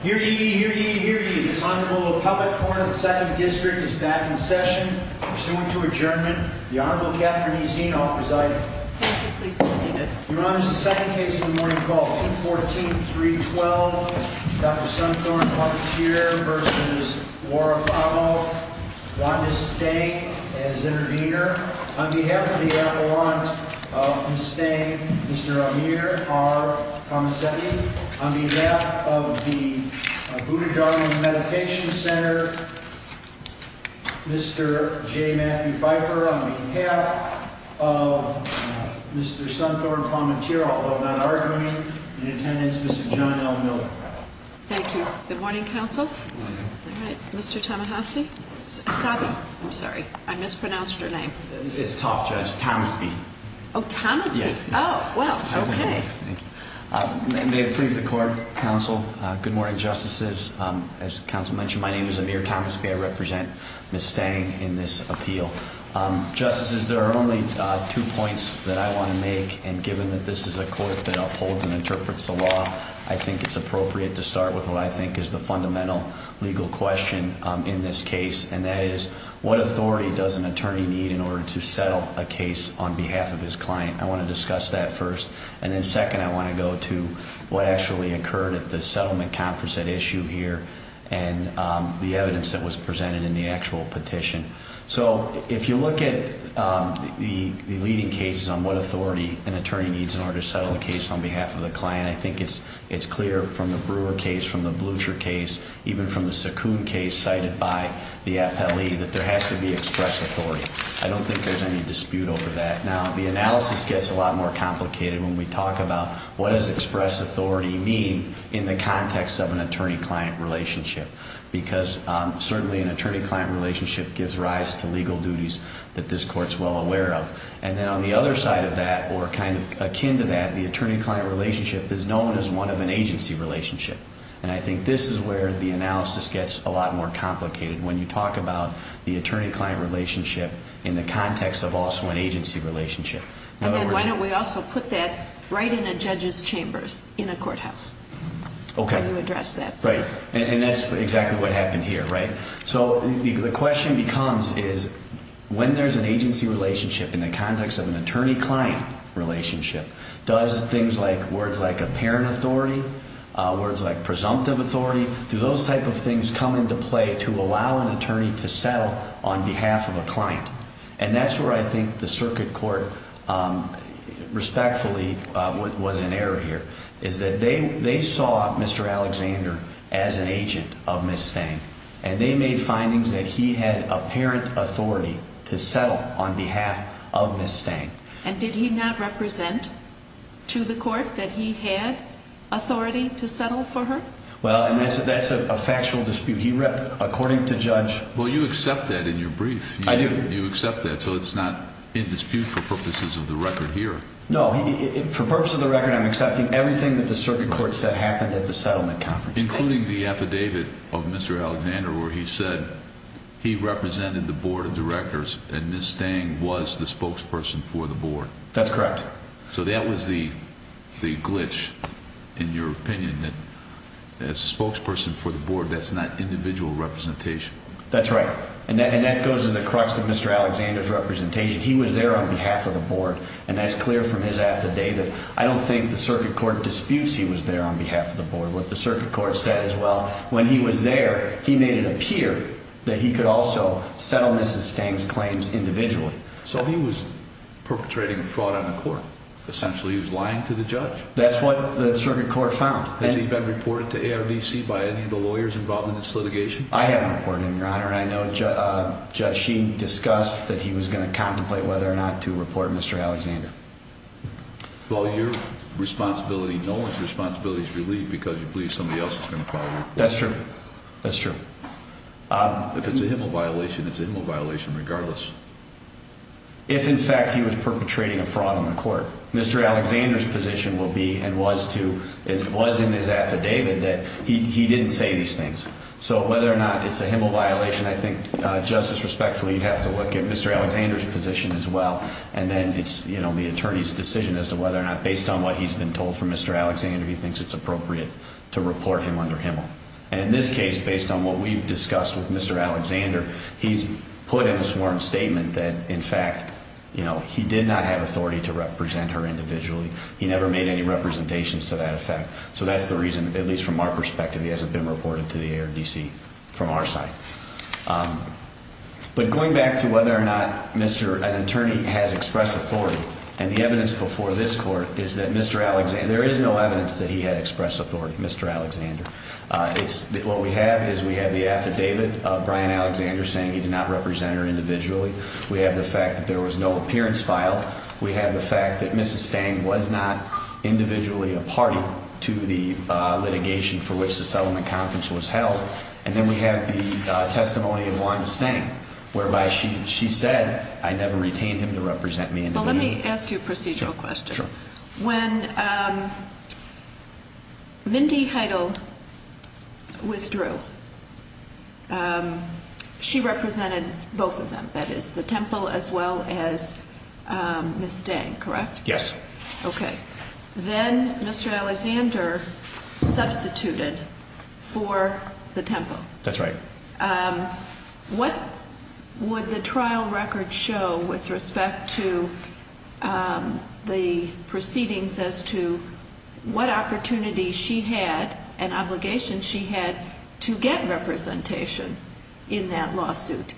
Hear ye, hear ye, hear ye. This Honorable Puppet Coroner of the 2nd District is back in session, pursuant to adjournment. The Honorable Catherine E. Zienhoff presiding. Thank you. Please be seated. Your Honor, this is the second case of the morning called 214-312, Dr. Sumthorne, a puppeteer, v. Woratharnmo, Juan de Stey as intervener. On behalf of the Avalanche of de Stey, Mr. Amir R. Kamaseki. On behalf of the Buddha Dharma Meditation Center, Mr. J. Matthew Pfeiffer. On behalf of Mr. Sumthorne, a puppeteer, although not arguing, in attendance, Mr. John L. Miller. Thank you. Good morning, counsel. Good morning. Mr. Tamahasi. Sabi, I'm sorry. I mispronounced your name. It's Tom, Judge. Tamaski. Oh, Tamaski. Yeah. Oh, well, okay. Thank you. May it please the court, counsel. Good morning, justices. As counsel mentioned, my name is Amir Tamaski. I represent Ms. Stang in this appeal. Justices, there are only two points that I want to make. And given that this is a court that upholds and interprets the law, I think it's appropriate to start with what I think is the fundamental legal question in this case. And that is, what authority does an attorney need in order to settle a case on behalf of his client? I want to discuss that first. And then second, I want to go to what actually occurred at the settlement conference at issue here and the evidence that was presented in the actual petition. So if you look at the leading cases on what authority an attorney needs in order to settle a case on behalf of the client, I think it's clear from the Brewer case, from the Blucher case, even from the Saccoon case cited by the appellee, that there has to be express authority. I don't think there's any dispute over that. Now, the analysis gets a lot more complicated when we talk about, what does express authority mean in the context of an attorney-client relationship? Because certainly an attorney-client relationship gives rise to legal duties that this court's well aware of. And then on the other side of that, or kind of akin to that, the attorney-client relationship is known as one of an agency relationship. And I think this is where the analysis gets a lot more complicated. When you talk about the attorney-client relationship in the context of also an agency relationship. And then why don't we also put that right in a judge's chambers in a courthouse? Okay. How do you address that? Right. And that's exactly what happened here, right? So the question becomes, is when there's an agency relationship in the context of an attorney-client relationship, does things like, words like apparent authority, words like presumptive authority, do those type of things come into play to allow an attorney to settle on behalf of a client? And that's where I think the circuit court respectfully was in error here, is that they saw Mr. Alexander as an agent of Ms. Stang. And they made findings that he had apparent authority to settle on behalf of Ms. Stang. And did he not represent to the court that he had authority to settle for her? Well, and that's a factual dispute. He rep, according to judge... Well, you accept that in your brief. I do. You accept that. So it's not in dispute for purposes of the record here. No, for purpose of the record, I'm accepting everything that the circuit court said happened at the settlement conference. Including the affidavit of Mr. Alexander, where he said he represented the board of directors and Ms. Stang was the spokesperson for the board. That's correct. So that was the glitch, in your opinion, that as a spokesperson for the board, that's not individual representation. That's right. And that goes to the crux of Mr. Alexander's representation. He was there on behalf of the board. And that's clear from his affidavit. I don't think the circuit court disputes he was there on behalf of the board. What the circuit court said as well, when he was there, he made it appear that he could also settle Ms. Stang's claims individually. So he was perpetrating fraud on the court. Essentially, he was lying to the judge. That's what the circuit court found. Has he been reported to ARVC by any of the lawyers involved in this litigation? I haven't reported him, your honor. And I know Judge Sheen discussed that he was going to contemplate whether or not to report Mr. Alexander. Well, your responsibility, no one's responsibility is relieved because you believe somebody else is going to file your report. That's true. That's true. If it's a HMO violation, it's a HMO violation regardless. If, in fact, he was perpetrating a fraud on the court, Mr. Alexander's position will be and was to, it was in his affidavit that he didn't say these things. So whether or not it's a HMO violation, I think, Justice, respectfully, you'd have to look at Mr. Alexander's position as well. And then it's the attorney's decision as to whether or not, based on what he's been told from Mr. Alexander, he thinks it's appropriate to report him under HMO. And in this case, based on what we've discussed with Mr. Alexander, he's put in a sworn statement that, in fact, he did not have authority to represent her individually. He never made any representations to that effect. So that's the reason, at least from our perspective, he hasn't been reported to the ARDC from our side. But going back to whether or not an attorney has expressed authority, and the evidence before this court is that Mr. Alexander, there is no evidence that he had expressed authority, Mr. Alexander. It's what we have is we have the affidavit of Brian Alexander saying he did not represent her individually. We have the fact that there was no appearance filed. We have the fact that Mrs. Stang was not individually a party to the litigation for which the settlement conference was held. And then we have the testimony of Wanda Stang, whereby she said, I never retained him to represent me. Let me ask you a procedural question. Sure. When Mindy Heidel withdrew, she represented both of them, that is, the temple as well as Mrs. Stang, correct? Yes. Okay. Then Mr. Alexander substituted for the temple. That's right. Okay. What would the trial record show with respect to the proceedings as to what opportunity she had, an obligation she had to get representation in that lawsuit?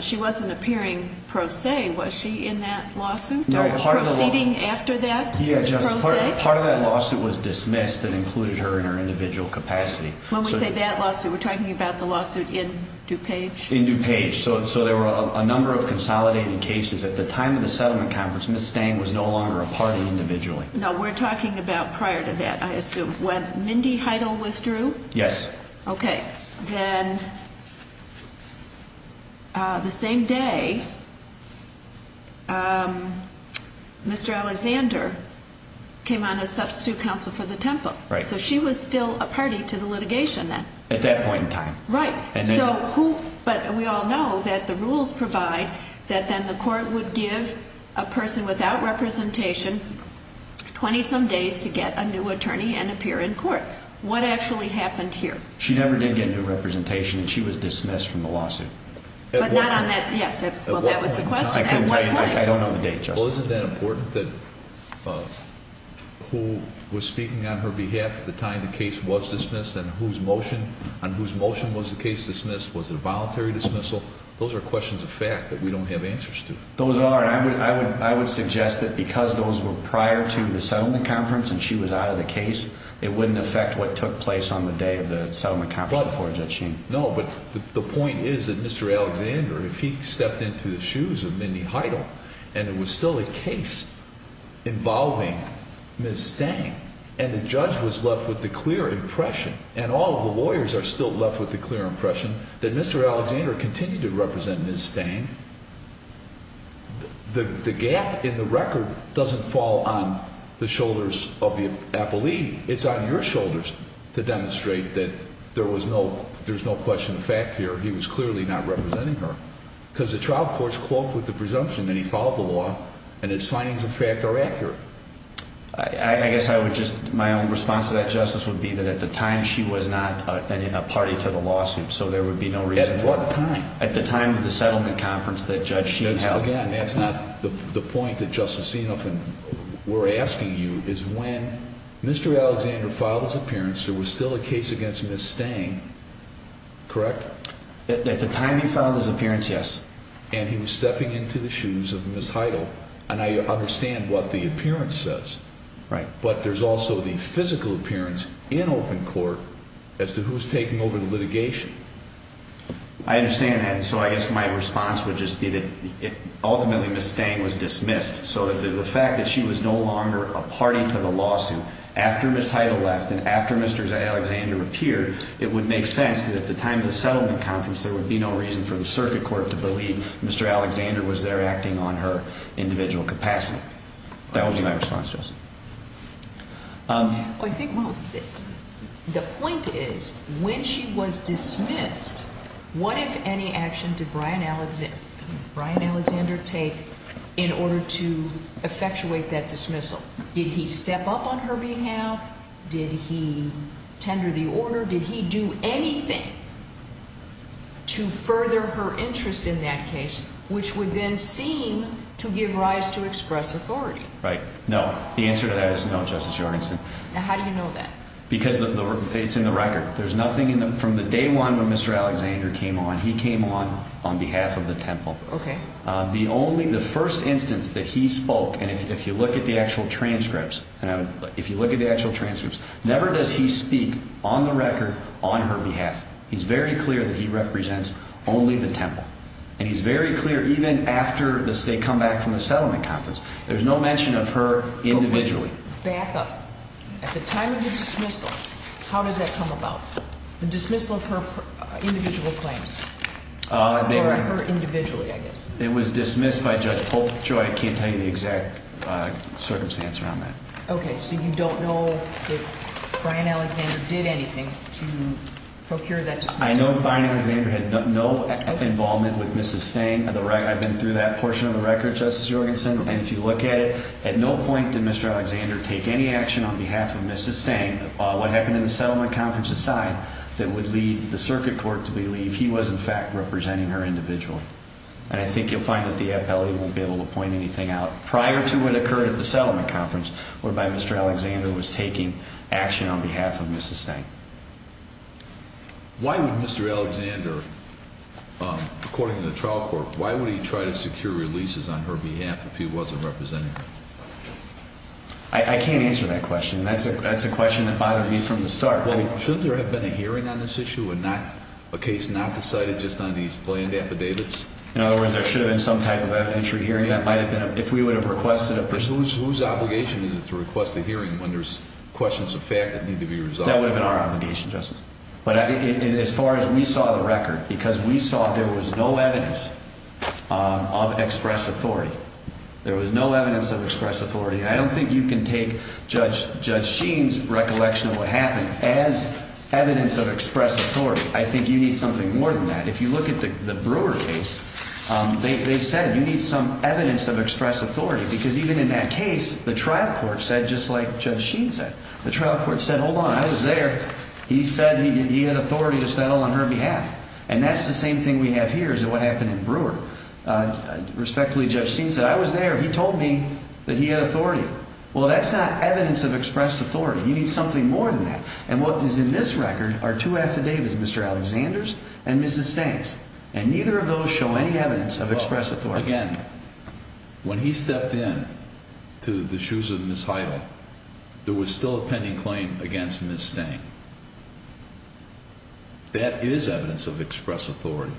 She wasn't appearing pro se. Was she in that lawsuit? No, part of the law. Proceeding after that? Yeah, just part of that lawsuit was dismissed and included her in her individual capacity. When we say that lawsuit, we're talking about the lawsuit in DuPage? In DuPage. So there were a number of consolidated cases. At the time of the settlement conference, Mrs. Stang was no longer a party individually. No, we're talking about prior to that, I assume. When Mindy Heidel withdrew? Yes. Okay. Then the same day, Mr. Alexander came on as substitute counsel for the temple. Right. She was still a party to the litigation then? At that point in time. Right. We all know that the rules provide that then the court would give a person without representation 20-some days to get a new attorney and appear in court. What actually happened here? She never did get a new representation and she was dismissed from the lawsuit. But not on that, yes. Well, that was the question. At what point? I don't know the date, Justice. Well, isn't that important that who was speaking on her behalf at the time the case was dismissed and whose motion was the case dismissed? Was it a voluntary dismissal? Those are questions of fact that we don't have answers to. Those are, and I would suggest that because those were prior to the settlement conference and she was out of the case, it wouldn't affect what took place on the day of the settlement conference that she... No, but the point is that Mr. Alexander, if he stepped into the shoes of Mindy Heidel and it was still a case involving Ms. Stang and the judge was left with the clear impression and all of the lawyers are still left with the clear impression that Mr. Alexander continued to represent Ms. Stang, the gap in the record doesn't fall on the shoulders of the appellee. It's on your shoulders to demonstrate that there was no... There's no question of fact here. He was clearly not representing her because the trial courts cloaked with the presumption that he followed the law and his findings of fact are accurate. I guess I would just... My own response to that, Justice, would be that at the time she was not in a party to the lawsuit, so there would be no reason for... At what time? At the time of the settlement conference that Judge Sheen held. Again, that's not the point that Justice Sienoff and we're asking you is when Mr. Alexander filed his appearance, there was still a case against Ms. Stang, correct? At the time he filed his appearance, yes. And he was stepping into the shoes of Ms. Heidel. And I understand what the appearance says. Right. But there's also the physical appearance in open court as to who's taking over the litigation. I understand that. So I guess my response would just be that ultimately Ms. Stang was dismissed. So the fact that she was no longer a party to the lawsuit after Ms. Heidel left and after Mr. Alexander appeared, it would make sense that at the time of the settlement conference there would be no reason for the circuit court to believe Mr. Alexander was there acting on her individual capacity. That was my response, Justice. I think the point is when she was dismissed, what, if any, action did Brian Alexander take in order to effectuate that dismissal? Did he step up on her behalf? Did he tender the order? Did he do anything to further her interest in that case, which would then seem to give rise to express authority? Right. No. The answer to that is no, Justice Jorgensen. How do you know that? Because it's in the record. From the day one when Mr. Alexander came on, he came on on behalf of the temple. OK. The first instance that he spoke, and if you look at the actual transcripts, if you look at the actual transcripts, never does he speak on the record on her behalf. He's very clear that he represents only the temple. And he's very clear even after they come back from the settlement conference, there's no mention of her individually. Back up. At the time of the dismissal, how does that come about? The dismissal of her individual claims? Or her individually, I guess. It was dismissed by Judge Polk. Joy, I can't tell you the exact circumstance around that. OK. So you don't know if Brian Alexander did anything to procure that dismissal? I know Brian Alexander had no involvement with Mrs. Stang. I've been through that portion of the record, Justice Jorgensen. And if you look at it, at no point did Mr. Alexander take any action on behalf of Mrs. Stang. What happened in the settlement conference aside, that would lead the circuit court to believe he was, in fact, representing her individually. And I think you'll find that the appellate won't be able to point anything out. Prior to what occurred at the settlement conference, whereby Mr. Alexander was taking action on behalf of Mrs. Stang. Why would Mr. Alexander, according to the trial court, why would he try to secure releases on her behalf if he wasn't representing her? I can't answer that question. That's a question that bothered me from the start. Well, shouldn't there have been a hearing on this issue and not a case not decided just on these planned affidavits? In other words, there should have been some type of an entry hearing. That might have been if we would have requested a person whose obligation is to request a hearing when there's questions of fact that need to be resolved. That would have been our obligation, Justice. But as far as we saw the record, because we saw there was no evidence of express authority. There was no evidence of express authority. I don't think you can take Judge Sheen's recollection of what happened as evidence of express authority. I think you need something more than that. If you look at the Brewer case, they said you need some evidence of express authority. Because even in that case, the trial court said, just like Judge Sheen said, the trial court said, hold on, I was there. He said he had authority to settle on her behalf. And that's the same thing we have here as what happened in Brewer. Respectfully, Judge Sheen said, I was there. He told me that he had authority. Well, that's not evidence of express authority. You need something more than that. And what is in this record are two affidavits, Mr. Alexander's and Mrs. Stang's. And neither of those show any evidence of express authority. Again, when he stepped into the shoes of Ms. Heidel, there was still a pending claim against Ms. Stang. That is evidence of express authority.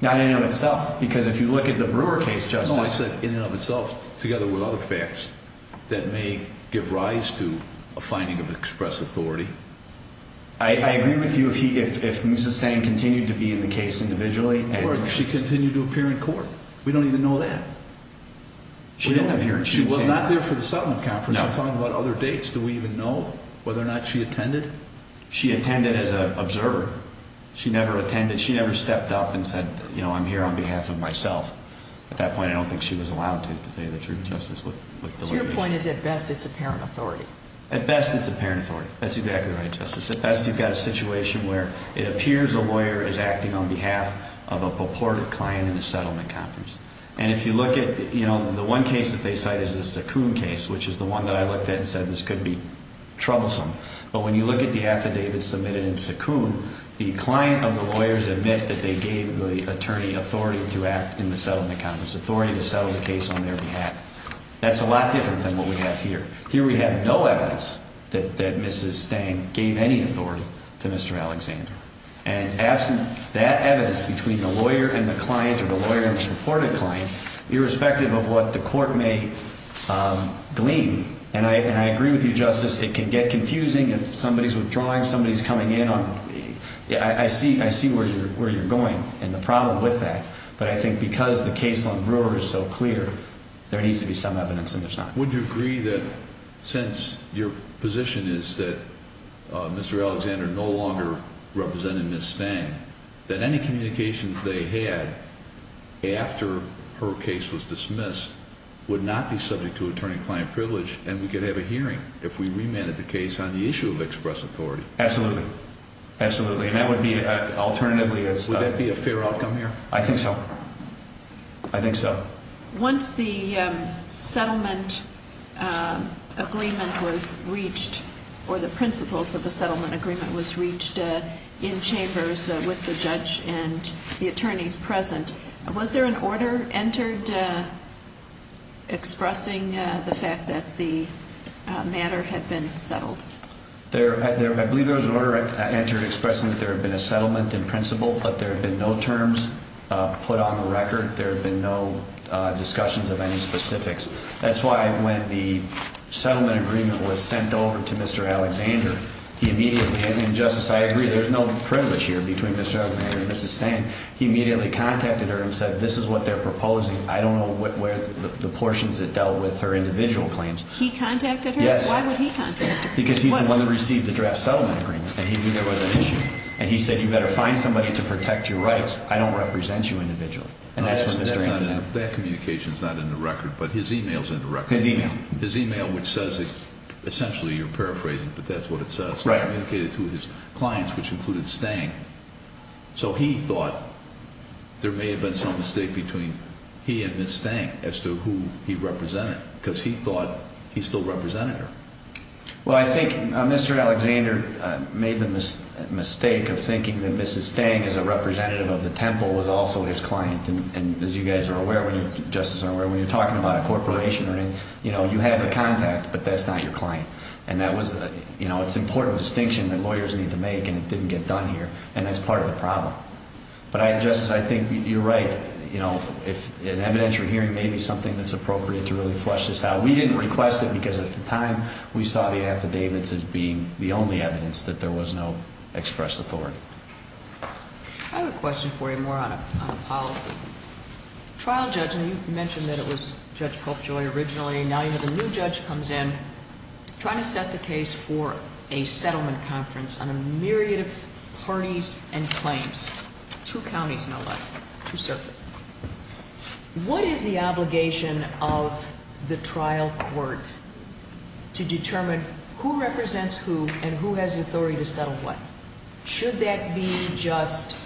Not in and of itself. Because if you look at the Brewer case, Justice. No, I said in and of itself, together with other facts that may give rise to a finding of express authority. I agree with you if Ms. Stang continued to be in the case individually. Or if she continued to appear in court. We don't even know that. She didn't appear in court. She was not there for the settlement conference. I'm talking about other dates. Do we even know whether or not she attended? She attended as an observer. She never attended. She never stepped up and said, you know, I'm here on behalf of myself. At that point, I don't think she was allowed to, to say the truth, Justice. Your point is, at best, it's apparent authority. At best, it's apparent authority. That's exactly right, Justice. At best, you've got a situation where it appears a lawyer is acting on behalf of a purported client in a settlement conference. And if you look at, you know, the one case that they cite is the Sakoon case, which is the one that I looked at and said, this could be troublesome. But when you look at the affidavit submitted in Sakoon, the client of the lawyers admit that they gave the attorney authority to act in the settlement conference. Authority to settle the case on their behalf. That's a lot different than what we have here. Here we have no evidence that Mrs. Stang gave any authority to Mr. Alexander. And absent that evidence between the lawyer and the client or the lawyer and the purported client, irrespective of what the court may glean, and I agree with you, Justice, it can get confusing if somebody's withdrawing, somebody's coming in on, I see where you're going and the problem with that. But I think because the case on Brewer is so clear, there needs to be some evidence and there's not. Would you agree that since your position is that Mr. Alexander no longer represented Mrs. Stang, that any communications they had after her case was dismissed would not be subject to attorney-client privilege and we could have a hearing if we remanded the case on the issue of express authority? Absolutely. Absolutely. And that would be alternatively as- Would that be a fair outcome here? I think so. I think so. Once the settlement agreement was reached, or the principles of a settlement agreement was reached in chambers with the judge and the attorneys present, was there an order entered expressing the fact that the matter had been settled? There, I believe there was an order entered expressing that there had been a settlement in principle, but there have been no terms put on the record. There have been no discussions of any specifics. That's why when the settlement agreement was sent over to Mr. Alexander, he immediately, and Justice, I agree, there's no privilege here between Mr. Alexander and Mrs. Stang. He immediately contacted her and said, this is what they're proposing. I don't know where the portions that dealt with her individual claims. He contacted her? Yes. Why would he contact her? Because he's the one that received the draft settlement agreement and he knew there was an issue. And he said, you better find somebody to protect your rights. I don't represent you individually. And that's what Mr. Alexander did. That communication is not in the record, but his email is in the record. His email. His email, which says, essentially, you're paraphrasing, but that's what it says. It's communicated to his clients, which included Stang. So he thought there may have been some mistake between he and Mrs. Stang as to who he represented, because he thought he still represented her. Well, I think Mr. Alexander made the mistake of thinking that Mrs. Stang, as a representative of the temple, was also his client. And as you guys are aware, when you're talking about a corporation, you have the contact, but that's not your client. And it's an important distinction that lawyers need to make, and it didn't get done here. And that's part of the problem. But, Justice, I think you're right. If an evidentiary hearing may be something that's appropriate to really flesh this out. We didn't request it, because at the time, we saw the affidavits as being the only evidence that there was no express authority. I have a question for you, more on a policy. Trial judge, and you mentioned that it was Judge Popejoy originally. Now you have a new judge comes in, trying to set the case for a settlement conference on a myriad of parties and claims. Two counties, no less. Two circuits. What is the obligation of the trial court to determine who represents who and who has the authority to settle what? Should that be just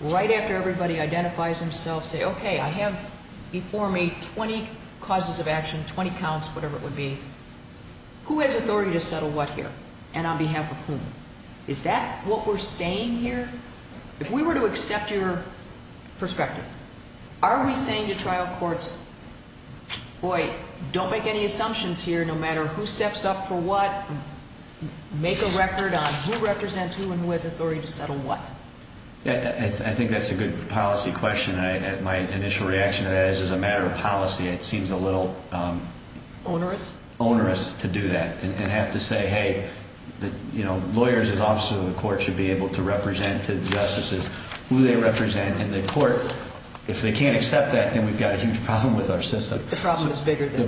right after everybody identifies themselves, say, okay, I have before me 20 causes of action, 20 counts, whatever it would be. Who has authority to settle what here? And on behalf of whom? Is that what we're saying here? If we were to accept your perspective, are we saying to trial courts, boy, don't make any assumptions here. No matter who steps up for what, make a record on who represents who and who has authority to settle what. I think that's a good policy question. My initial reaction to that is, as a matter of policy, it seems a little onerous to do that and have to say, hey, lawyers as officers of the court should be able to decide who they represent in the court. If they can't accept that, then we've got a huge problem with our system. The problem is bigger than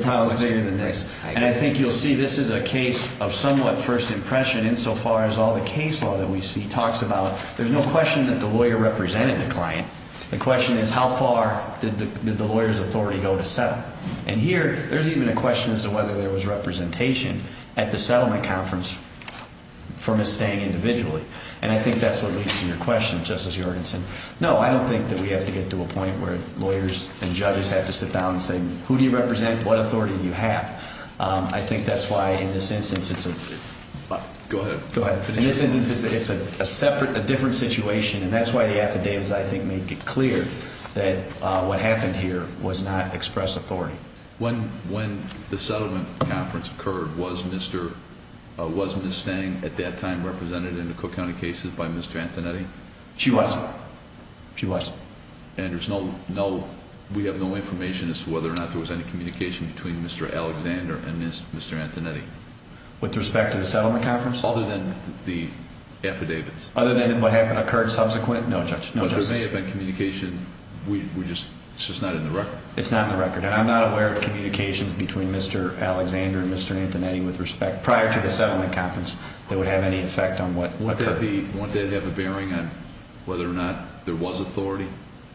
this. And I think you'll see this is a case of somewhat first impression insofar as all the case law that we see talks about. There's no question that the lawyer represented the client. The question is, how far did the lawyer's authority go to settle? And here, there's even a question as to whether there was representation at the settlement conference for Ms. Stang individually. And I think that's what leads to your question, Justice Jorgensen. No, I don't think that we have to get to a point where lawyers and judges have to sit down and say, who do you represent? What authority do you have? I think that's why, in this instance, it's a separate, a different situation. And that's why the affidavits, I think, make it clear that what happened here was not express authority. When the settlement conference occurred, was Ms. Stang at that time represented in the Cook County cases by Mr. Antonetti? She was. She was. And there's no, we have no information as to whether or not there was any communication between Mr. Alexander and Mr. Antonetti? With respect to the settlement conference? Other than the affidavits. Other than what happened, occurred subsequent? No, Judge. It's just not in the record. It's not in the record. And I'm not aware of communications between Mr. Alexander and Mr. Antonetti, with respect, prior to the settlement conference, that would have any effect on what occurred. Wouldn't that have a bearing on whether or not there was authority?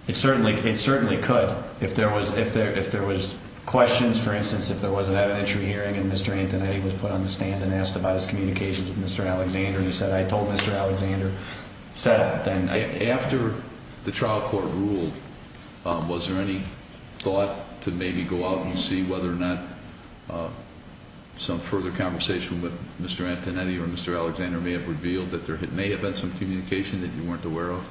It certainly could. If there was questions, for instance, if there was an evidentiary hearing and Mr. Antonetti was put on the stand and asked about his communications with Mr. Alexander and he said, I told Mr. Alexander, set up then. After the trial court ruled, was there any thought to maybe go out and see whether or not some further conversation with Mr. Antonetti or Mr. Alexander may have revealed that there may have been some communication that you weren't aware of?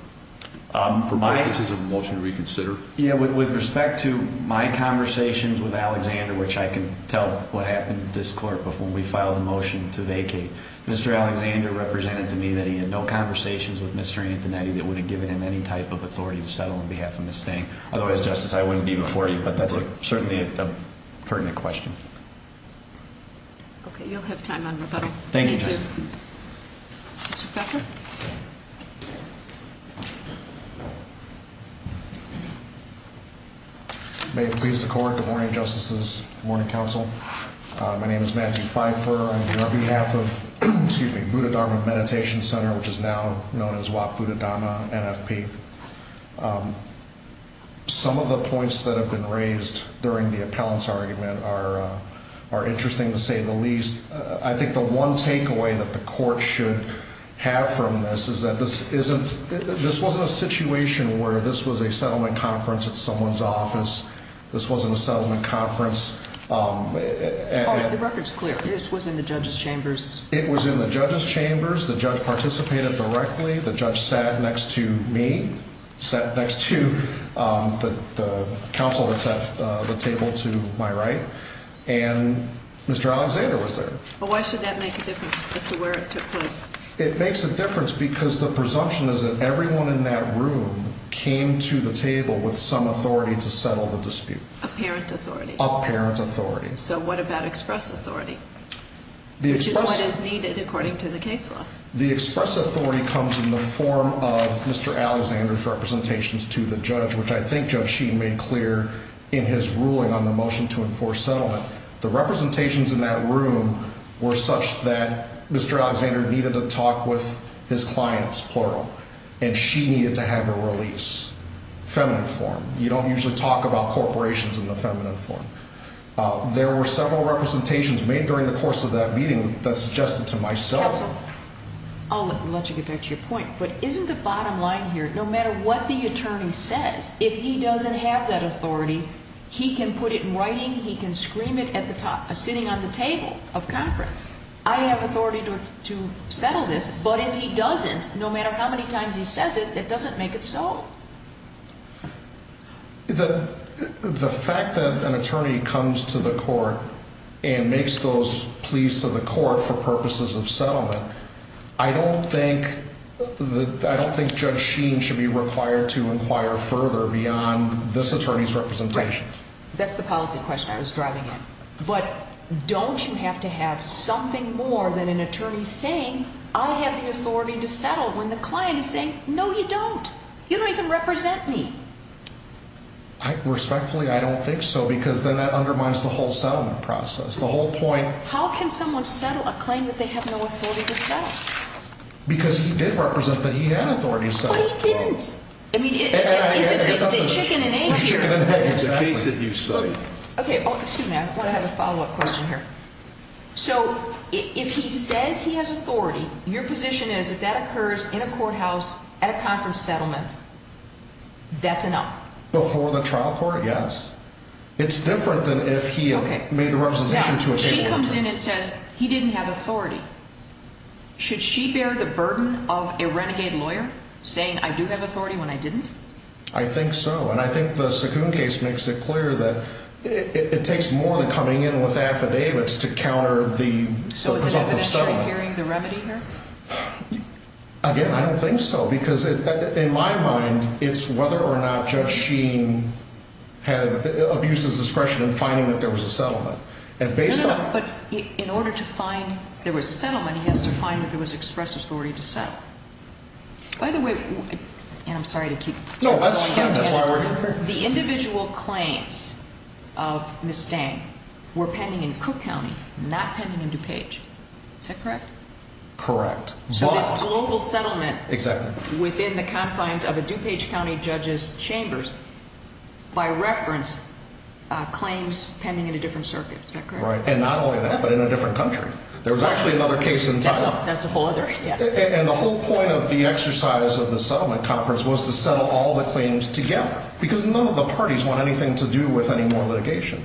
For purposes of a motion to reconsider? Yeah, with respect to my conversations with Alexander, which I can tell what happened to this court before we filed the motion to vacate, Mr. Alexander represented to me that he had no conversations with Mr. Antonetti that would have given him any type of authority to settle on behalf of Ms. Stang. Otherwise, Justice, I wouldn't be before you. But that's certainly a pertinent question. Okay, you'll have time on rebuttal. Thank you, Justice. Thank you. Mr. Feiffer? May it please the Court, good morning, Justices, good morning, Counsel. My name is Matthew Feiffer. I'm here on behalf of, excuse me, Buddhadharma Meditation Center, which is now known as Wat Buddhadharma NFP. Some of the points that have been raised during the appellant's argument are interesting, to say the least. I think the one takeaway that the Court should have from this is that this wasn't a situation where this was a settlement conference at someone's office. This wasn't a settlement conference. All right, the record's clear. This was in the judge's chambers. It was in the judge's chambers. The judge participated directly. The judge sat next to me, sat next to the counsel that set the table to my right. And Mr. Alexander was there. But why should that make a difference as to where it took place? It makes a difference because the presumption is that everyone in that room came to the table with some authority to settle the dispute. Apparent authority. Apparent authority. So what about express authority? Which is what is needed according to the case law. The express authority comes in the form of Mr. Alexander's representations to the judge, which I think Judge Sheen made clear in his ruling on the motion to enforce settlement. The representations in that room were such that Mr. Alexander needed to talk with his clients, plural, and she needed to have a release, feminine form. You don't usually talk about corporations in the feminine form. There were several representations made during the course of that meeting that suggested to myself... Counsel, I'll let you get back to your point. But isn't the bottom line here, no matter what the attorney says, if he doesn't have that authority, he can put it in writing, he can scream it at the top, sitting on the table of conference. I have authority to settle this. But if he doesn't, no matter how many times he says it, it doesn't make it so. The fact that an attorney comes to the court and makes those pleas to the court for purposes of settlement, I don't think Judge Sheen should be required to inquire further beyond this attorney's representations. Right. That's the policy question I was driving at. But don't you have to have something more than an attorney saying, I have the authority to settle, when the client is saying, no, you don't. You don't even represent me. Respectfully, I don't think so. Because then that undermines the whole settlement process. The whole point... How can someone settle a claim that they have no authority to settle? Because he did represent that he had authority to settle. But he didn't. I mean, is the chicken and egg here? The chicken and egg is the case that you cite. Okay. Oh, excuse me. I have a follow-up question here. So if he says he has authority, your position is, if that occurs in a courthouse at a conference settlement, that's enough? Before the trial court, yes. It's different than if he made the representation to a table or two. Now, if she comes in and says he didn't have authority, should she bear the burden of a renegade lawyer saying, I do have authority when I didn't? I think so. And I think the Sakoon case makes it clear that it takes more than coming in with affidavits to counter the presumptive settlement. So is it evidentiary hearing the remedy here? Again, I don't think so. Because in my mind, it's whether or not Judge Sheen had abuse of discretion in finding that there was a settlement. No, no, no. But in order to find there was a settlement, he has to find that there was express authority to settle. By the way, and I'm sorry to keep going down here. The individual claims of Ms. Stang were pending in Cook County, not pending in DuPage. Is that correct? Correct. So this global settlement. Exactly. Within the confines of a DuPage County judge's chambers, by reference, claims pending in a different circuit. Is that correct? Right. And not only that, but in a different country. There was actually another case in town. That's a whole other, yeah. And the whole point of the exercise of the settlement conference was to settle all the claims together because none of the parties want anything to do with any more litigation.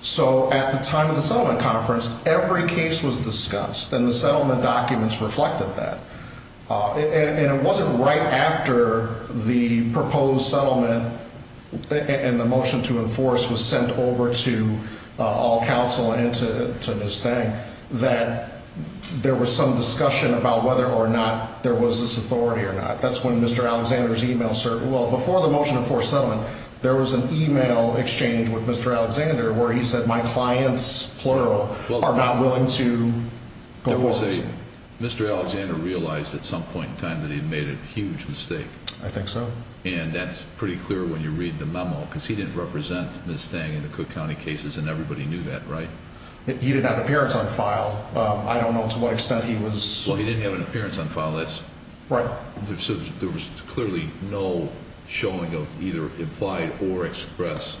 So at the time of the settlement conference, every case was discussed. And the settlement documents reflected that. And it wasn't right after the proposed settlement and the motion to enforce was sent over to all counsel and to Ms. Stang that there was some discussion about whether or not there was this authority or not. That's when Mr. Alexander's email, well, before the motion to enforce settlement, there was an email exchange with Mr. Alexander where he said, my clients, plural, are not willing to go forward. There was a, Mr. Alexander realized at some point in time that he'd made a huge mistake. I think so. And that's pretty clear when you read the memo because he didn't represent Ms. Stang in the Cook County cases and everybody knew that, right? He didn't have an appearance on file. I don't know to what extent he was- Well, he didn't have an appearance on file. That's- Right. There was clearly no showing of either implied or express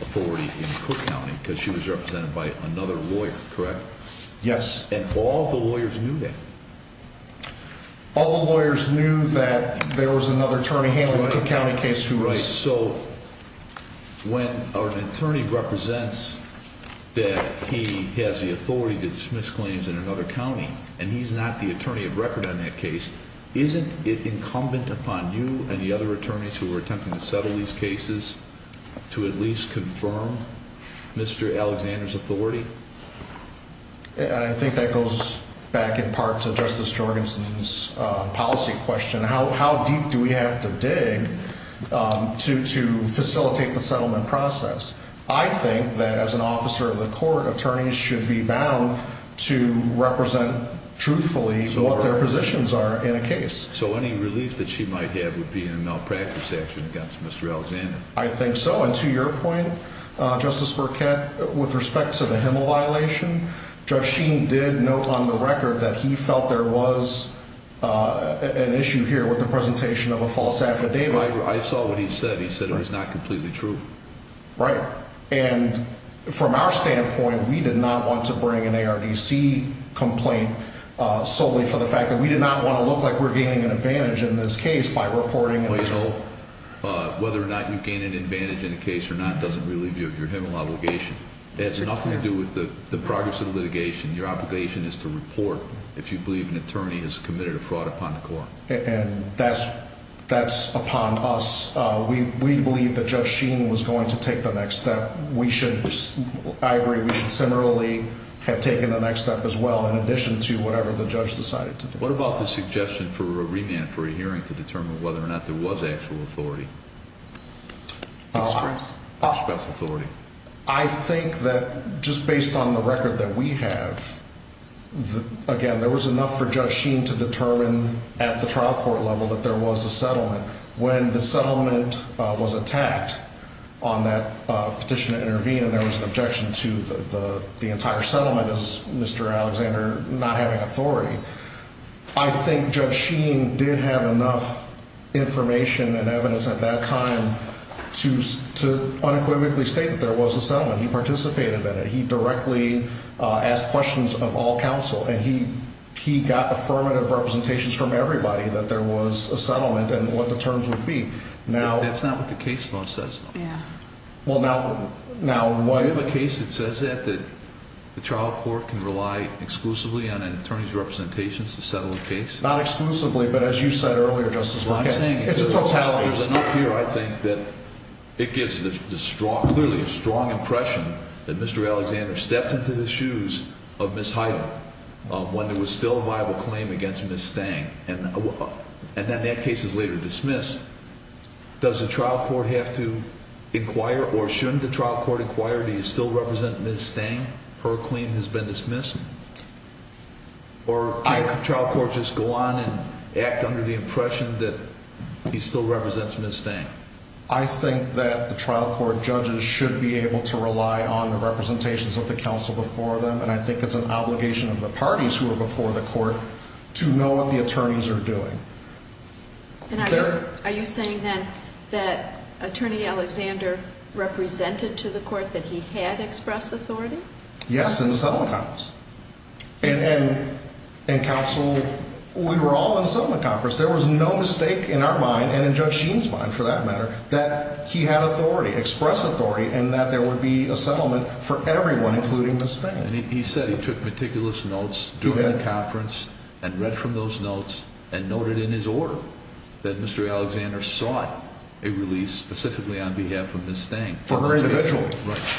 authority in Cook County because she was represented by another lawyer, correct? Yes. And all the lawyers knew that? All the lawyers knew that there was another attorney handling the Cook County case who was- Right. So when an attorney represents that he has the authority to dismiss claims in another county and he's not the attorney of record on that case, isn't it incumbent upon you and the other attorneys who are attempting to settle these cases to at least confirm Mr. Alexander's authority? And I think that goes back in part to Justice Jorgensen's policy question. How deep do we have to dig to facilitate the settlement process? I think that as an officer of the court, attorneys should be bound to represent truthfully what their positions are in a case. So any relief that she might have would be in a malpractice action against Mr. Alexander? I think so. And to your point, Justice Burkett, with respect to the Hemel violation, Judge Sheen did note on the record that he felt there was an issue here with the presentation of a false affidavit. I saw what he said. He said it was not completely true. Right. And from our standpoint, we did not want to bring an ARDC complaint solely for the fact that we did not want to look like we're gaining an advantage in this case by reporting- Whether or not you gain an advantage in a case or not doesn't relieve you of your Hemel obligation. It has nothing to do with the progress of the litigation. Your obligation is to report if you believe an attorney has committed a fraud upon the court. And that's upon us. We believe that Judge Sheen was going to take the next step. We should- I agree. We should similarly have taken the next step as well in addition to whatever the judge decided to do. What about the suggestion for a remand for a hearing to determine whether or not there was actual authority? I think that just based on the record that we have, again, there was enough for Judge Sheen to determine at the trial court level that there was a settlement. When the settlement was attacked on that petition to intervene and there was an objection to the entire settlement as Mr. Alexander not having authority, I think Judge Sheen did have enough information and evidence at that time to unequivocally state that there was a settlement. He participated in it. He directly asked questions of all counsel. And he got affirmative representations from everybody that there was a settlement and what the terms would be. Now- That's not what the case law says, though. Yeah. Well, now- Do you have a case that says that, that the trial court can rely exclusively on an attorney's representations to settle a case? Not exclusively, but as you said earlier, Justice- Well, I'm saying- It's a totalitarian- There's enough here, I think, that it gives the strong, clearly a strong impression that Mr. Alexander stepped into the shoes of Ms. Heidel when there was still a viable claim against Ms. Stang. And then that case is later dismissed. Does the trial court have to inquire, or shouldn't the trial court inquire, do you still represent Ms. Stang? Her claim has been dismissed? Or can't the trial court just go on and act under the impression that he still represents Ms. Stang? I think that the trial court judges should be able to rely on the representations of the counsel before them. And I think it's an obligation of the parties who are before the court to know what the attorneys are doing. And are you saying, then, that Attorney Alexander represented to the court that he had expressed authority? Yes, in the settlement comments. And counsel, we were all in a settlement conference. There was no mistake in our mind, and in Judge Sheen's mind, for that matter, that he had authority, expressed authority, and that there would be a settlement for everyone, including Ms. Stang. He said he took meticulous notes during the conference and read from those notes and noted in his order that Mr. Alexander sought a release specifically on behalf of Ms. Stang. For her individually.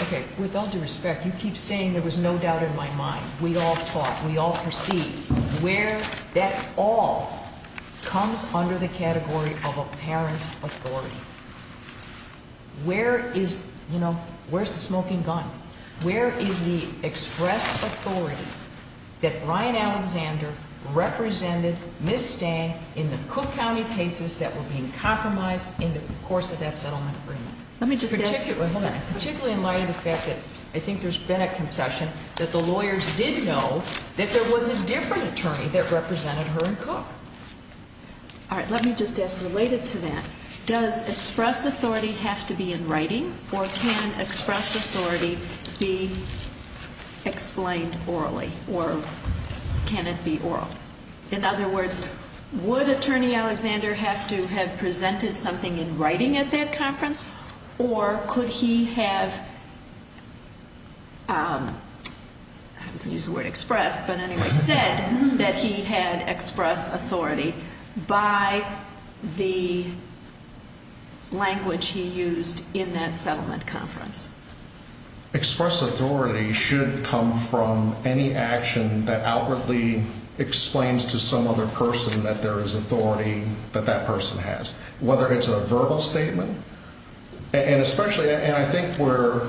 Okay, with all due respect, you keep saying there was no doubt in my mind. We all talk. We all proceed. Where that all comes under the category of apparent authority. Where is, you know, where's the smoking gun? Where is the expressed authority that Brian Alexander represented Ms. Stang in the Cook County cases that were being compromised in the course of that settlement agreement? Let me just ask you, particularly in light of the fact that I think there's been a concession that the lawyers did know that there was a different attorney that represented her in Cook. All right, let me just ask, related to that, does express authority have to be in writing or can express authority be explained orally or can it be oral? In other words, would Attorney Alexander have to have presented something in writing at that conference or could he have, I was going to use the word express, but anyway, said that he had express authority by the language he used in that settlement conference? Express authority should come from any action that outwardly explains to some other person that there is authority that that person has. Whether it's a verbal statement and especially, and I think we're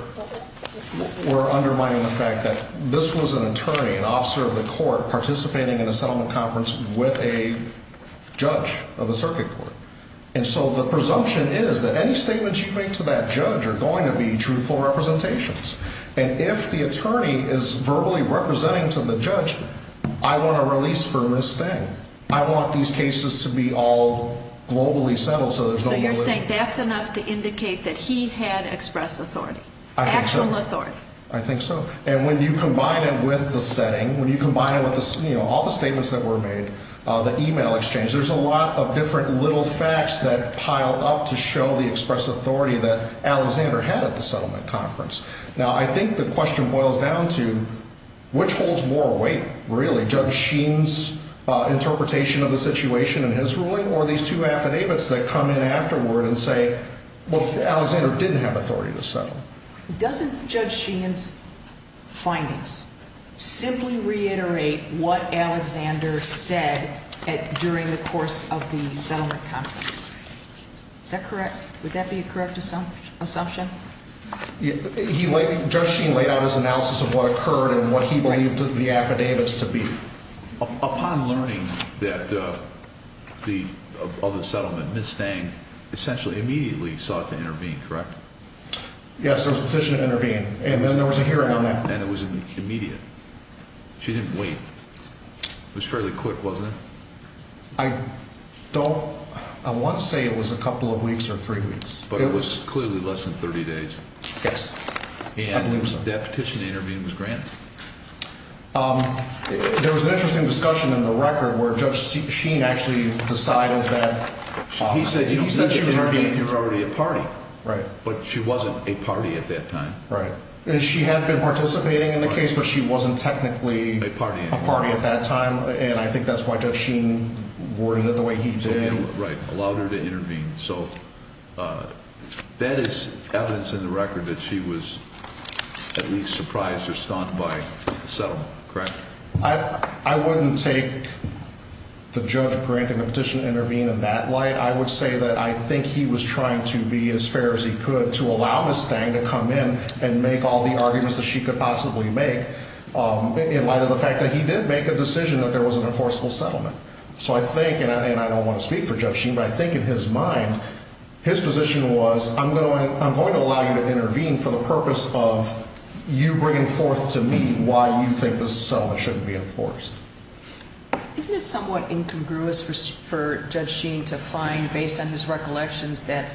undermining the fact that this was an attorney, an officer of the court, participating in a settlement conference with a judge of the circuit court. And so the presumption is that any statements you make to that judge are going to be truthful representations. And if the attorney is verbally representing to the judge, I want a release for Ms. Stang. I want these cases to be all globally settled. So you're saying that's enough to indicate that he had express authority, actual authority? I think so. And when you combine it with the setting, when you combine it with all the statements that were made, the email exchange, there's a lot of different little facts that pile up to show the express authority that Alexander had at the settlement conference. Now, I think the question boils down to which holds more weight, really? Judge Sheen's interpretation of the situation in his ruling or these two affidavits that come in afterward and say, well, Alexander didn't have authority to settle? Doesn't Judge Sheen's findings simply reiterate what Alexander said during the course of the settlement conference? Is that correct? Would that be a correct assumption? Judge Sheen laid out his analysis of what occurred and what he believed the affidavits to be. Upon learning that the, of the settlement, Ms. Stang essentially immediately sought to intervene, correct? Yes, there was a petition to intervene, and then there was a hearing on that. And it was immediate. She didn't wait. It was fairly quick, wasn't it? I don't, I want to say it was a couple of weeks or three weeks. But it was clearly less than 30 days. Yes, I believe so. And that petition to intervene was granted? There was an interesting discussion in the record where Judge Sheen actually decided that he said, he said she was already a party. Right. But she wasn't a party at that time. Right. And she had been participating in the case, but she wasn't technically a party at that time. And I think that's why Judge Sheen worded it the way he did. Right. Allowed her to intervene. So that is evidence in the record that she was at least surprised or stunned by the settlement, correct? I wouldn't take the judge granting the petition to intervene in that light. I would say that I think he was trying to be as fair as he could to allow Ms. Stang to come in and make all the arguments that she could possibly make in light of the fact that he did make a decision that there was an enforceable settlement. So I think, and I don't want to speak for Judge Sheen, but I think in his mind, his position was, I'm going to allow you to intervene for the purpose of you bringing forth to me why you think the settlement shouldn't be enforced. Isn't it somewhat incongruous for Judge Sheen to find, based on his recollections, that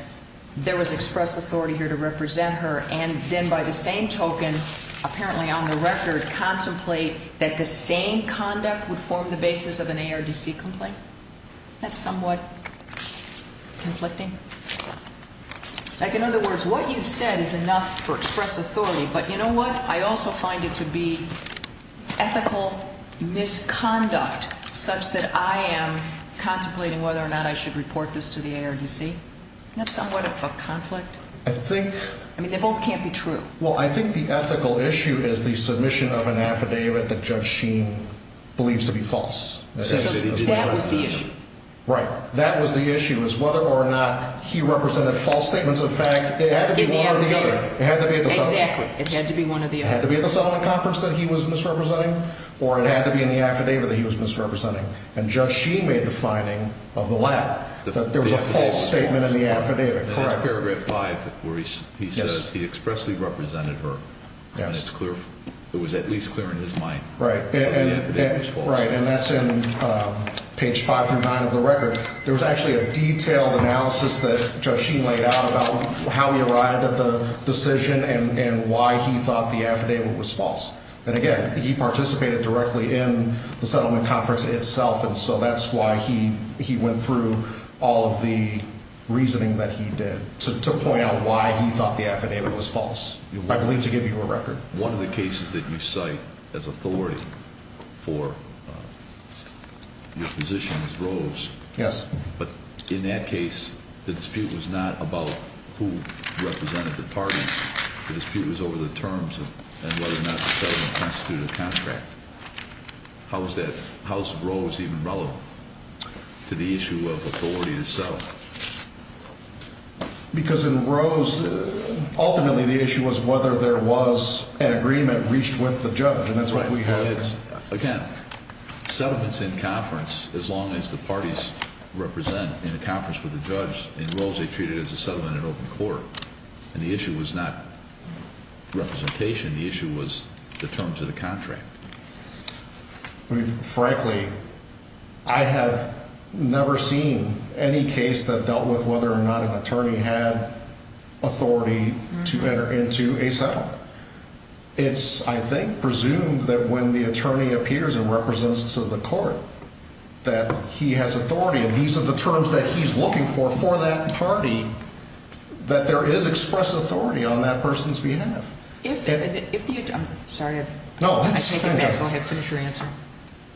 there was express authority here to represent her and then by the same token, apparently on the record, contemplate that the same conduct would form the basis of an ARDC complaint? That's somewhat conflicting. Like, in other words, what you said is enough for express authority. But you know what? I also find it to be ethical misconduct such that I am contemplating whether or not I should report this to the ARDC. Isn't that somewhat of a conflict? I think... I mean, they both can't be true. Well, I think the ethical issue is the submission of an affidavit that Judge Sheen believes to be false. That was the issue. Right. That was the issue, was whether or not he represented false statements of fact. It had to be one or the other. It had to be at the top. Exactly. It had to be one or the other. It had to be at the settlement conference that he was misrepresenting or it had to be in the affidavit that he was misrepresenting. And Judge Sheen made the finding of the latter, that there was a false statement in the affidavit. And that's paragraph five where he says he expressly represented her. And it's clear. It was at least clear in his mind that the affidavit was false. Right. And that's in page five through nine of the record. There was actually a detailed analysis that Judge Sheen laid out about how he arrived at the decision and why he thought the affidavit was false. And again, he participated directly in the settlement conference itself. And so that's why he went through all of the reasoning that he did to point out why he thought the affidavit was false. I believe to give you a record. One of the cases that you cite as authority for your position is Rose. Yes. But in that case, the dispute was not about who represented the parties. The dispute was over the terms and whether or not the settlement constituted a contract. How is that? How is Rose even relevant to the issue of authority to sell? Because in Rose, ultimately, the issue was whether there was an agreement reached with the judge. And that's why we had it. Again, settlements in conference, as long as the parties represent in a conference with the judge in Rose, they treat it as a settlement in open court. And the issue was not representation. The issue was the terms of the contract. Frankly, I have never seen any case that dealt with whether or not an attorney had authority to enter into a settlement. It's, I think, presumed that when the attorney appears and represents to the court that he has authority. And these are the terms that he's looking for, for that party, that there is express authority on that person's behalf. If, if you, I'm sorry, I take it back. Go ahead. Finish your answer.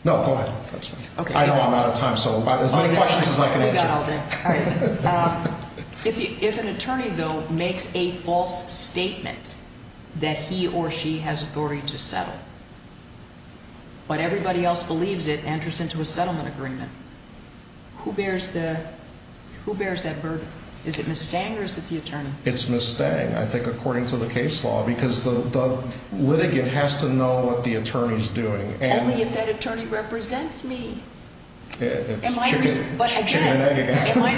No, go ahead. That's fine. Okay. I know I'm out of time. So as many questions as I can answer. We got all day. Um, if you, if an attorney though, makes a false statement that he or she has authority to settle, but everybody else believes it enters into a settlement agreement, who bears the, who bears that burden? Is it Ms. Stang or is it the attorney? It's Ms. Stang, I think, according to the case law, because the litigant has to know what the attorney's doing. Only if that attorney represents me. Am I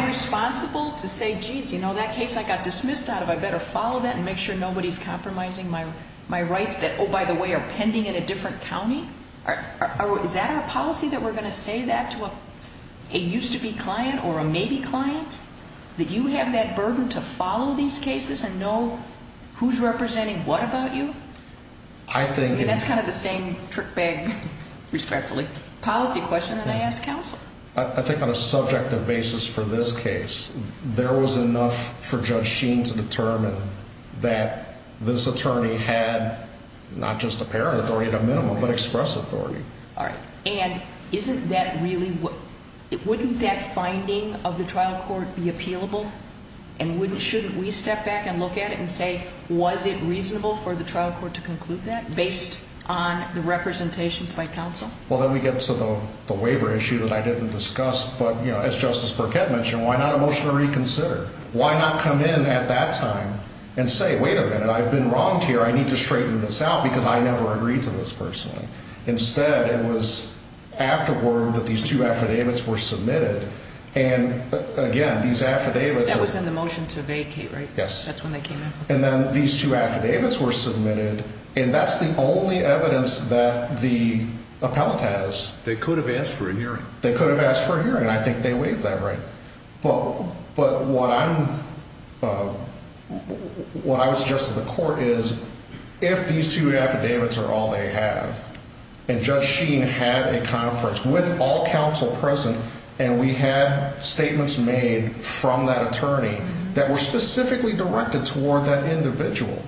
responsible to say, geez, you know, that case I got dismissed out of, I better follow that and make sure nobody's compromising my, my rights that, oh, by the way, are pending in a different County. Is that our policy that we're going to say that to a, a used to be client or a maybe client that you have that burden to follow these cases and know who's representing what about you? I think that's kind of the same trick bag, respectfully policy question that I asked counsel. I think on a subjective basis for this case, there was enough for judge Sheen to determine that this attorney had not just a parent authority at a minimum, but express authority. All right. And isn't that really, wouldn't that finding of the trial court be appealable and wouldn't, shouldn't we step back and look at it and say, was it reasonable for the trial court to conclude that based on the representations by counsel? Well, then we get to the waiver issue that I didn't discuss, but you know, as justice Burkett mentioned, why not a motion to reconsider? Why not come in at that time and say, wait a minute, I've been wronged here. I need to straighten this out because I never agreed to this personally. Instead, it was afterward that these two affidavits were submitted. And again, these affidavits was in the motion to vacate, right? Yes. That's when they came in. And then these two affidavits were submitted. And that's the only evidence that the appellate has. They could have asked for a hearing. They could have asked for a hearing. And I think they waived that right. But what I'm, what I was just at the court is if these two affidavits are all they have and judge Sheen had a conference with all counsel present and we had statements made from that attorney that were specifically directed toward that individual.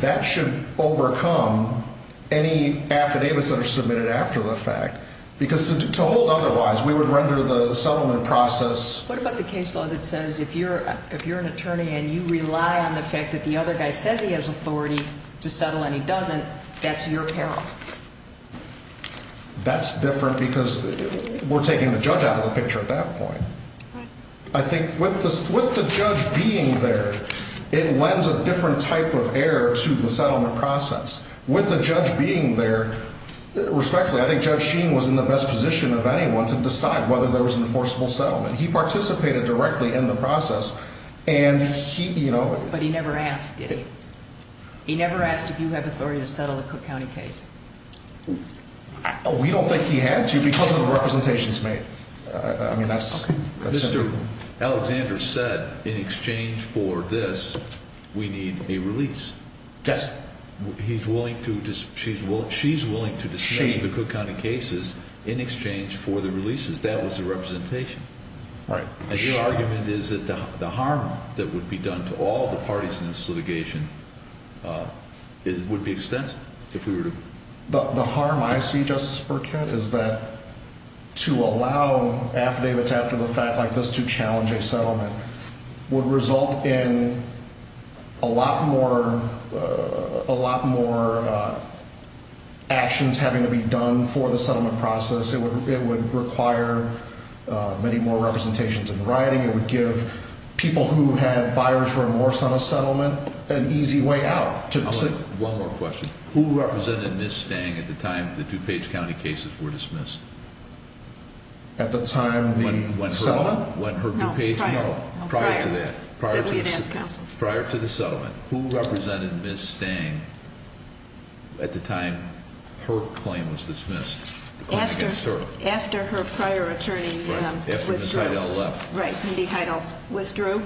That should overcome any affidavits that are submitted after the fact because to hold otherwise we would render the settlement process. What about the case law that says if you're, if you're an attorney and you rely on the fact that the other guy says he has authority to settle and he doesn't, that's your peril. That's different because we're taking the judge out of the picture at that point. I think with the, with the judge being there, it lends a different type of error to the settlement process with the judge being there respectfully. I think judge Sheen was in the best position of anyone to decide whether there was an enforceable settlement. He participated directly in the process and he, you know. But he never asked, did he? He never asked if you have authority to settle a Cook County case. We don't think he had to because of the representations made. I mean that's, that's simple. Mr. Alexander said in exchange for this we need a release. Yes. He's willing to, she's willing, she's willing to dismiss the Cook County cases in exchange for the releases. That was the representation. Right. And your argument is that the harm that would be done to all the parties in this litigation would be extensive if we were to. The harm I see, Justice Burkett, is that to allow affidavits after the fact like this to challenge a settlement would result in a lot more, a lot more actions having to be done for the settlement process. It would, it would require many more representations in writing. It would give people who had buyers remorse on a settlement an easy way out. One more question. Who represented Ms. Stang at the time the DuPage County cases were dismissed? At the time the settlement? When her DuPage, no, prior to that, prior to the, prior to the settlement. Who represented Ms. Stang at the time her claim was dismissed? After her prior attorney withdrew. Right, Indy Heidel withdrew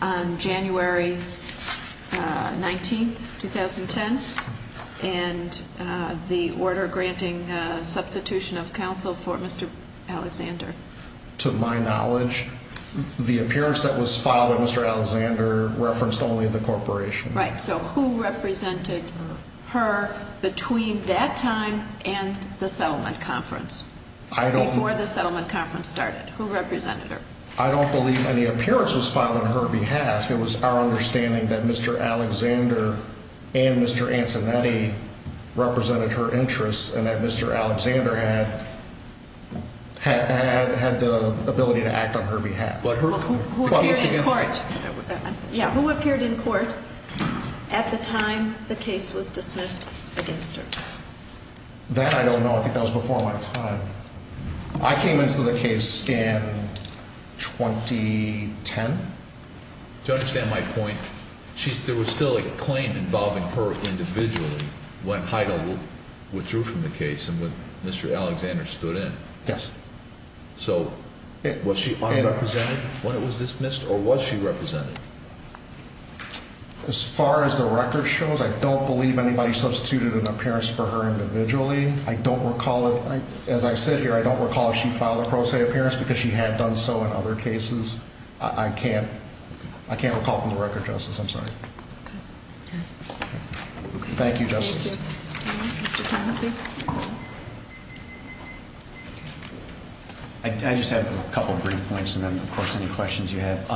on January 19th, 2010. And the order granting substitution of counsel for Mr. Alexander. To my knowledge, the appearance that was filed by Mr. Alexander referenced only the corporation. Right. So who represented her between that time and the settlement conference? I don't. Before the settlement conference started, who represented her? I don't believe any appearance was filed on her behalf. It was our understanding that Mr. Alexander and Mr. Ancinetti represented her interests. And that Mr. Alexander had, had the ability to act on her behalf. But who, who appeared in court at the time the case was dismissed against her? That I don't know. I think that was before my time. I came into the case in 2010. To understand my point, she's, there was still a claim involving her individually when Heidel withdrew from the case and when Mr. Alexander stood in. Yes. So was she unrepresented when it was dismissed or was she represented? As far as the record shows, I don't believe anybody substituted an appearance for her individually. I don't recall it. As I sit here, I don't recall if she filed a pro se appearance because she had done so in other cases. I can't, I can't recall from the record, Justice. I'm sorry. Thank you, Justice. I just have a couple of brief points and then, of course, any questions you have.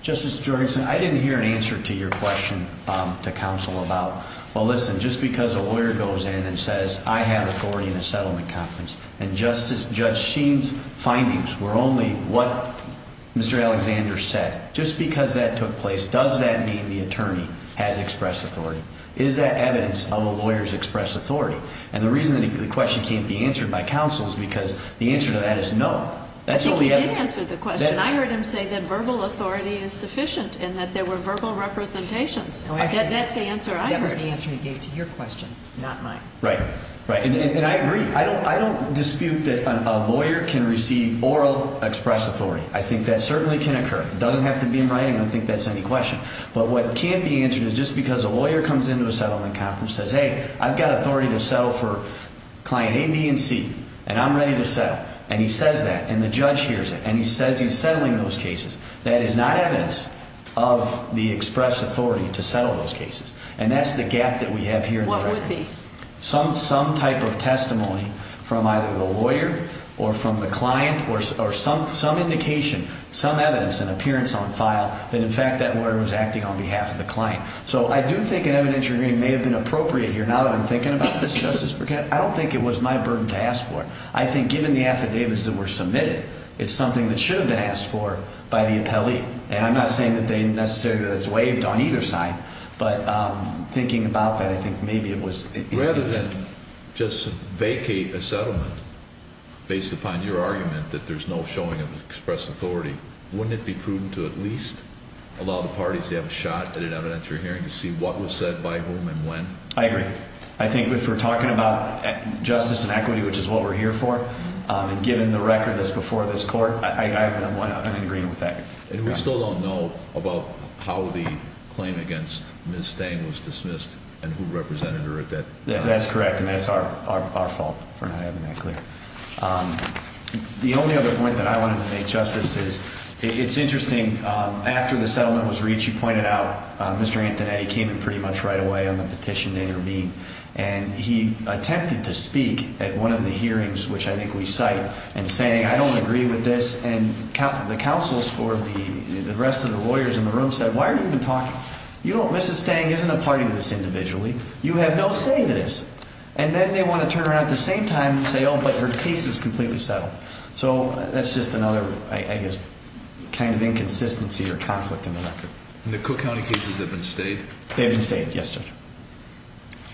Justice Jorgensen, I didn't hear an answer to your question to counsel about, well, listen, just because a lawyer goes in and says, I have authority in a settlement conference and Justice, Judge Sheen's findings were only what Mr. Alexander said. Just because that took place, does that mean the attorney has expressed authority? Is that evidence of a lawyer's expressed authority? And the reason that the question can't be answered by counsel is because the answer to that is no. That's all we have. He did answer the question. I heard him say that verbal authority is sufficient and that there were verbal representations. That's the answer I heard. That was the answer he gave to your question, not mine. Right, right. And I agree. I don't dispute that a lawyer can receive oral expressed authority. I think that certainly can occur. It doesn't have to be in writing. I don't think that's any question. But what can't be answered is just because a lawyer comes into a settlement conference and says, hey, I've got authority to settle for client A, B, and C, and I'm ready to settle. And he says that. And the judge hears it. And he says he's settling those cases. That is not evidence of the expressed authority to settle those cases. And that's the gap that we have here. What would be? Some type of testimony from either the lawyer or from the client or some indication, some evidence, an appearance on file that, in fact, that lawyer was acting on behalf of the client. So I do think an evidentiary hearing may have been appropriate here. Now that I'm thinking about this, Justice Burkett, I don't think it was my burden to ask for it. I think given the affidavits that were submitted, it's something that should have been asked for by the appellee. And I'm not saying that they necessarily that it's waived on either side. But thinking about that, I think maybe it was. Rather than just vacate a settlement based upon your argument that there's no showing of expressed authority, wouldn't it be prudent to at least allow the parties to have a shot at an evidentiary hearing to see what was said by whom and when? I agree. I think if we're talking about justice and equity, which is what we're here for, and given the record that's before this court, I'm in agreement with that. And we still don't know about how the claim against Ms. Stang was dismissed and who represented her at that time. That's correct. And that's our fault for not having that clear. The only other point that I wanted to make, Justice, is it's interesting, after the settlement was reached, you pointed out Mr. Antonetti came in pretty much right away on the petition that you're being. And he attempted to speak at one of the hearings, which I think we cite, and saying, I don't agree with this. And the counsels for the rest of the lawyers in the room said, why are you even talking? You know, Mrs. Stang isn't a party to this individually. You have no say in this. And then they want to turn around at the same time and say, oh, but her case is completely settled. So that's just another, I guess, kind of inconsistency or conflict in the record. And the Cook County cases have been stayed? They've been stayed, yes, Judge.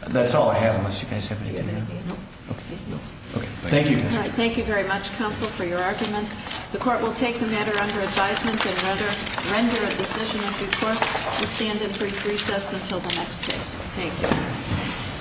That's all I have, unless you guys have anything to add. No. OK, no. OK, thank you. All right, thank you very much, counsel, for your arguments. The court will take the matter under advisement and render a decision. And of course, we'll stand in brief recess until the next case. Thank you.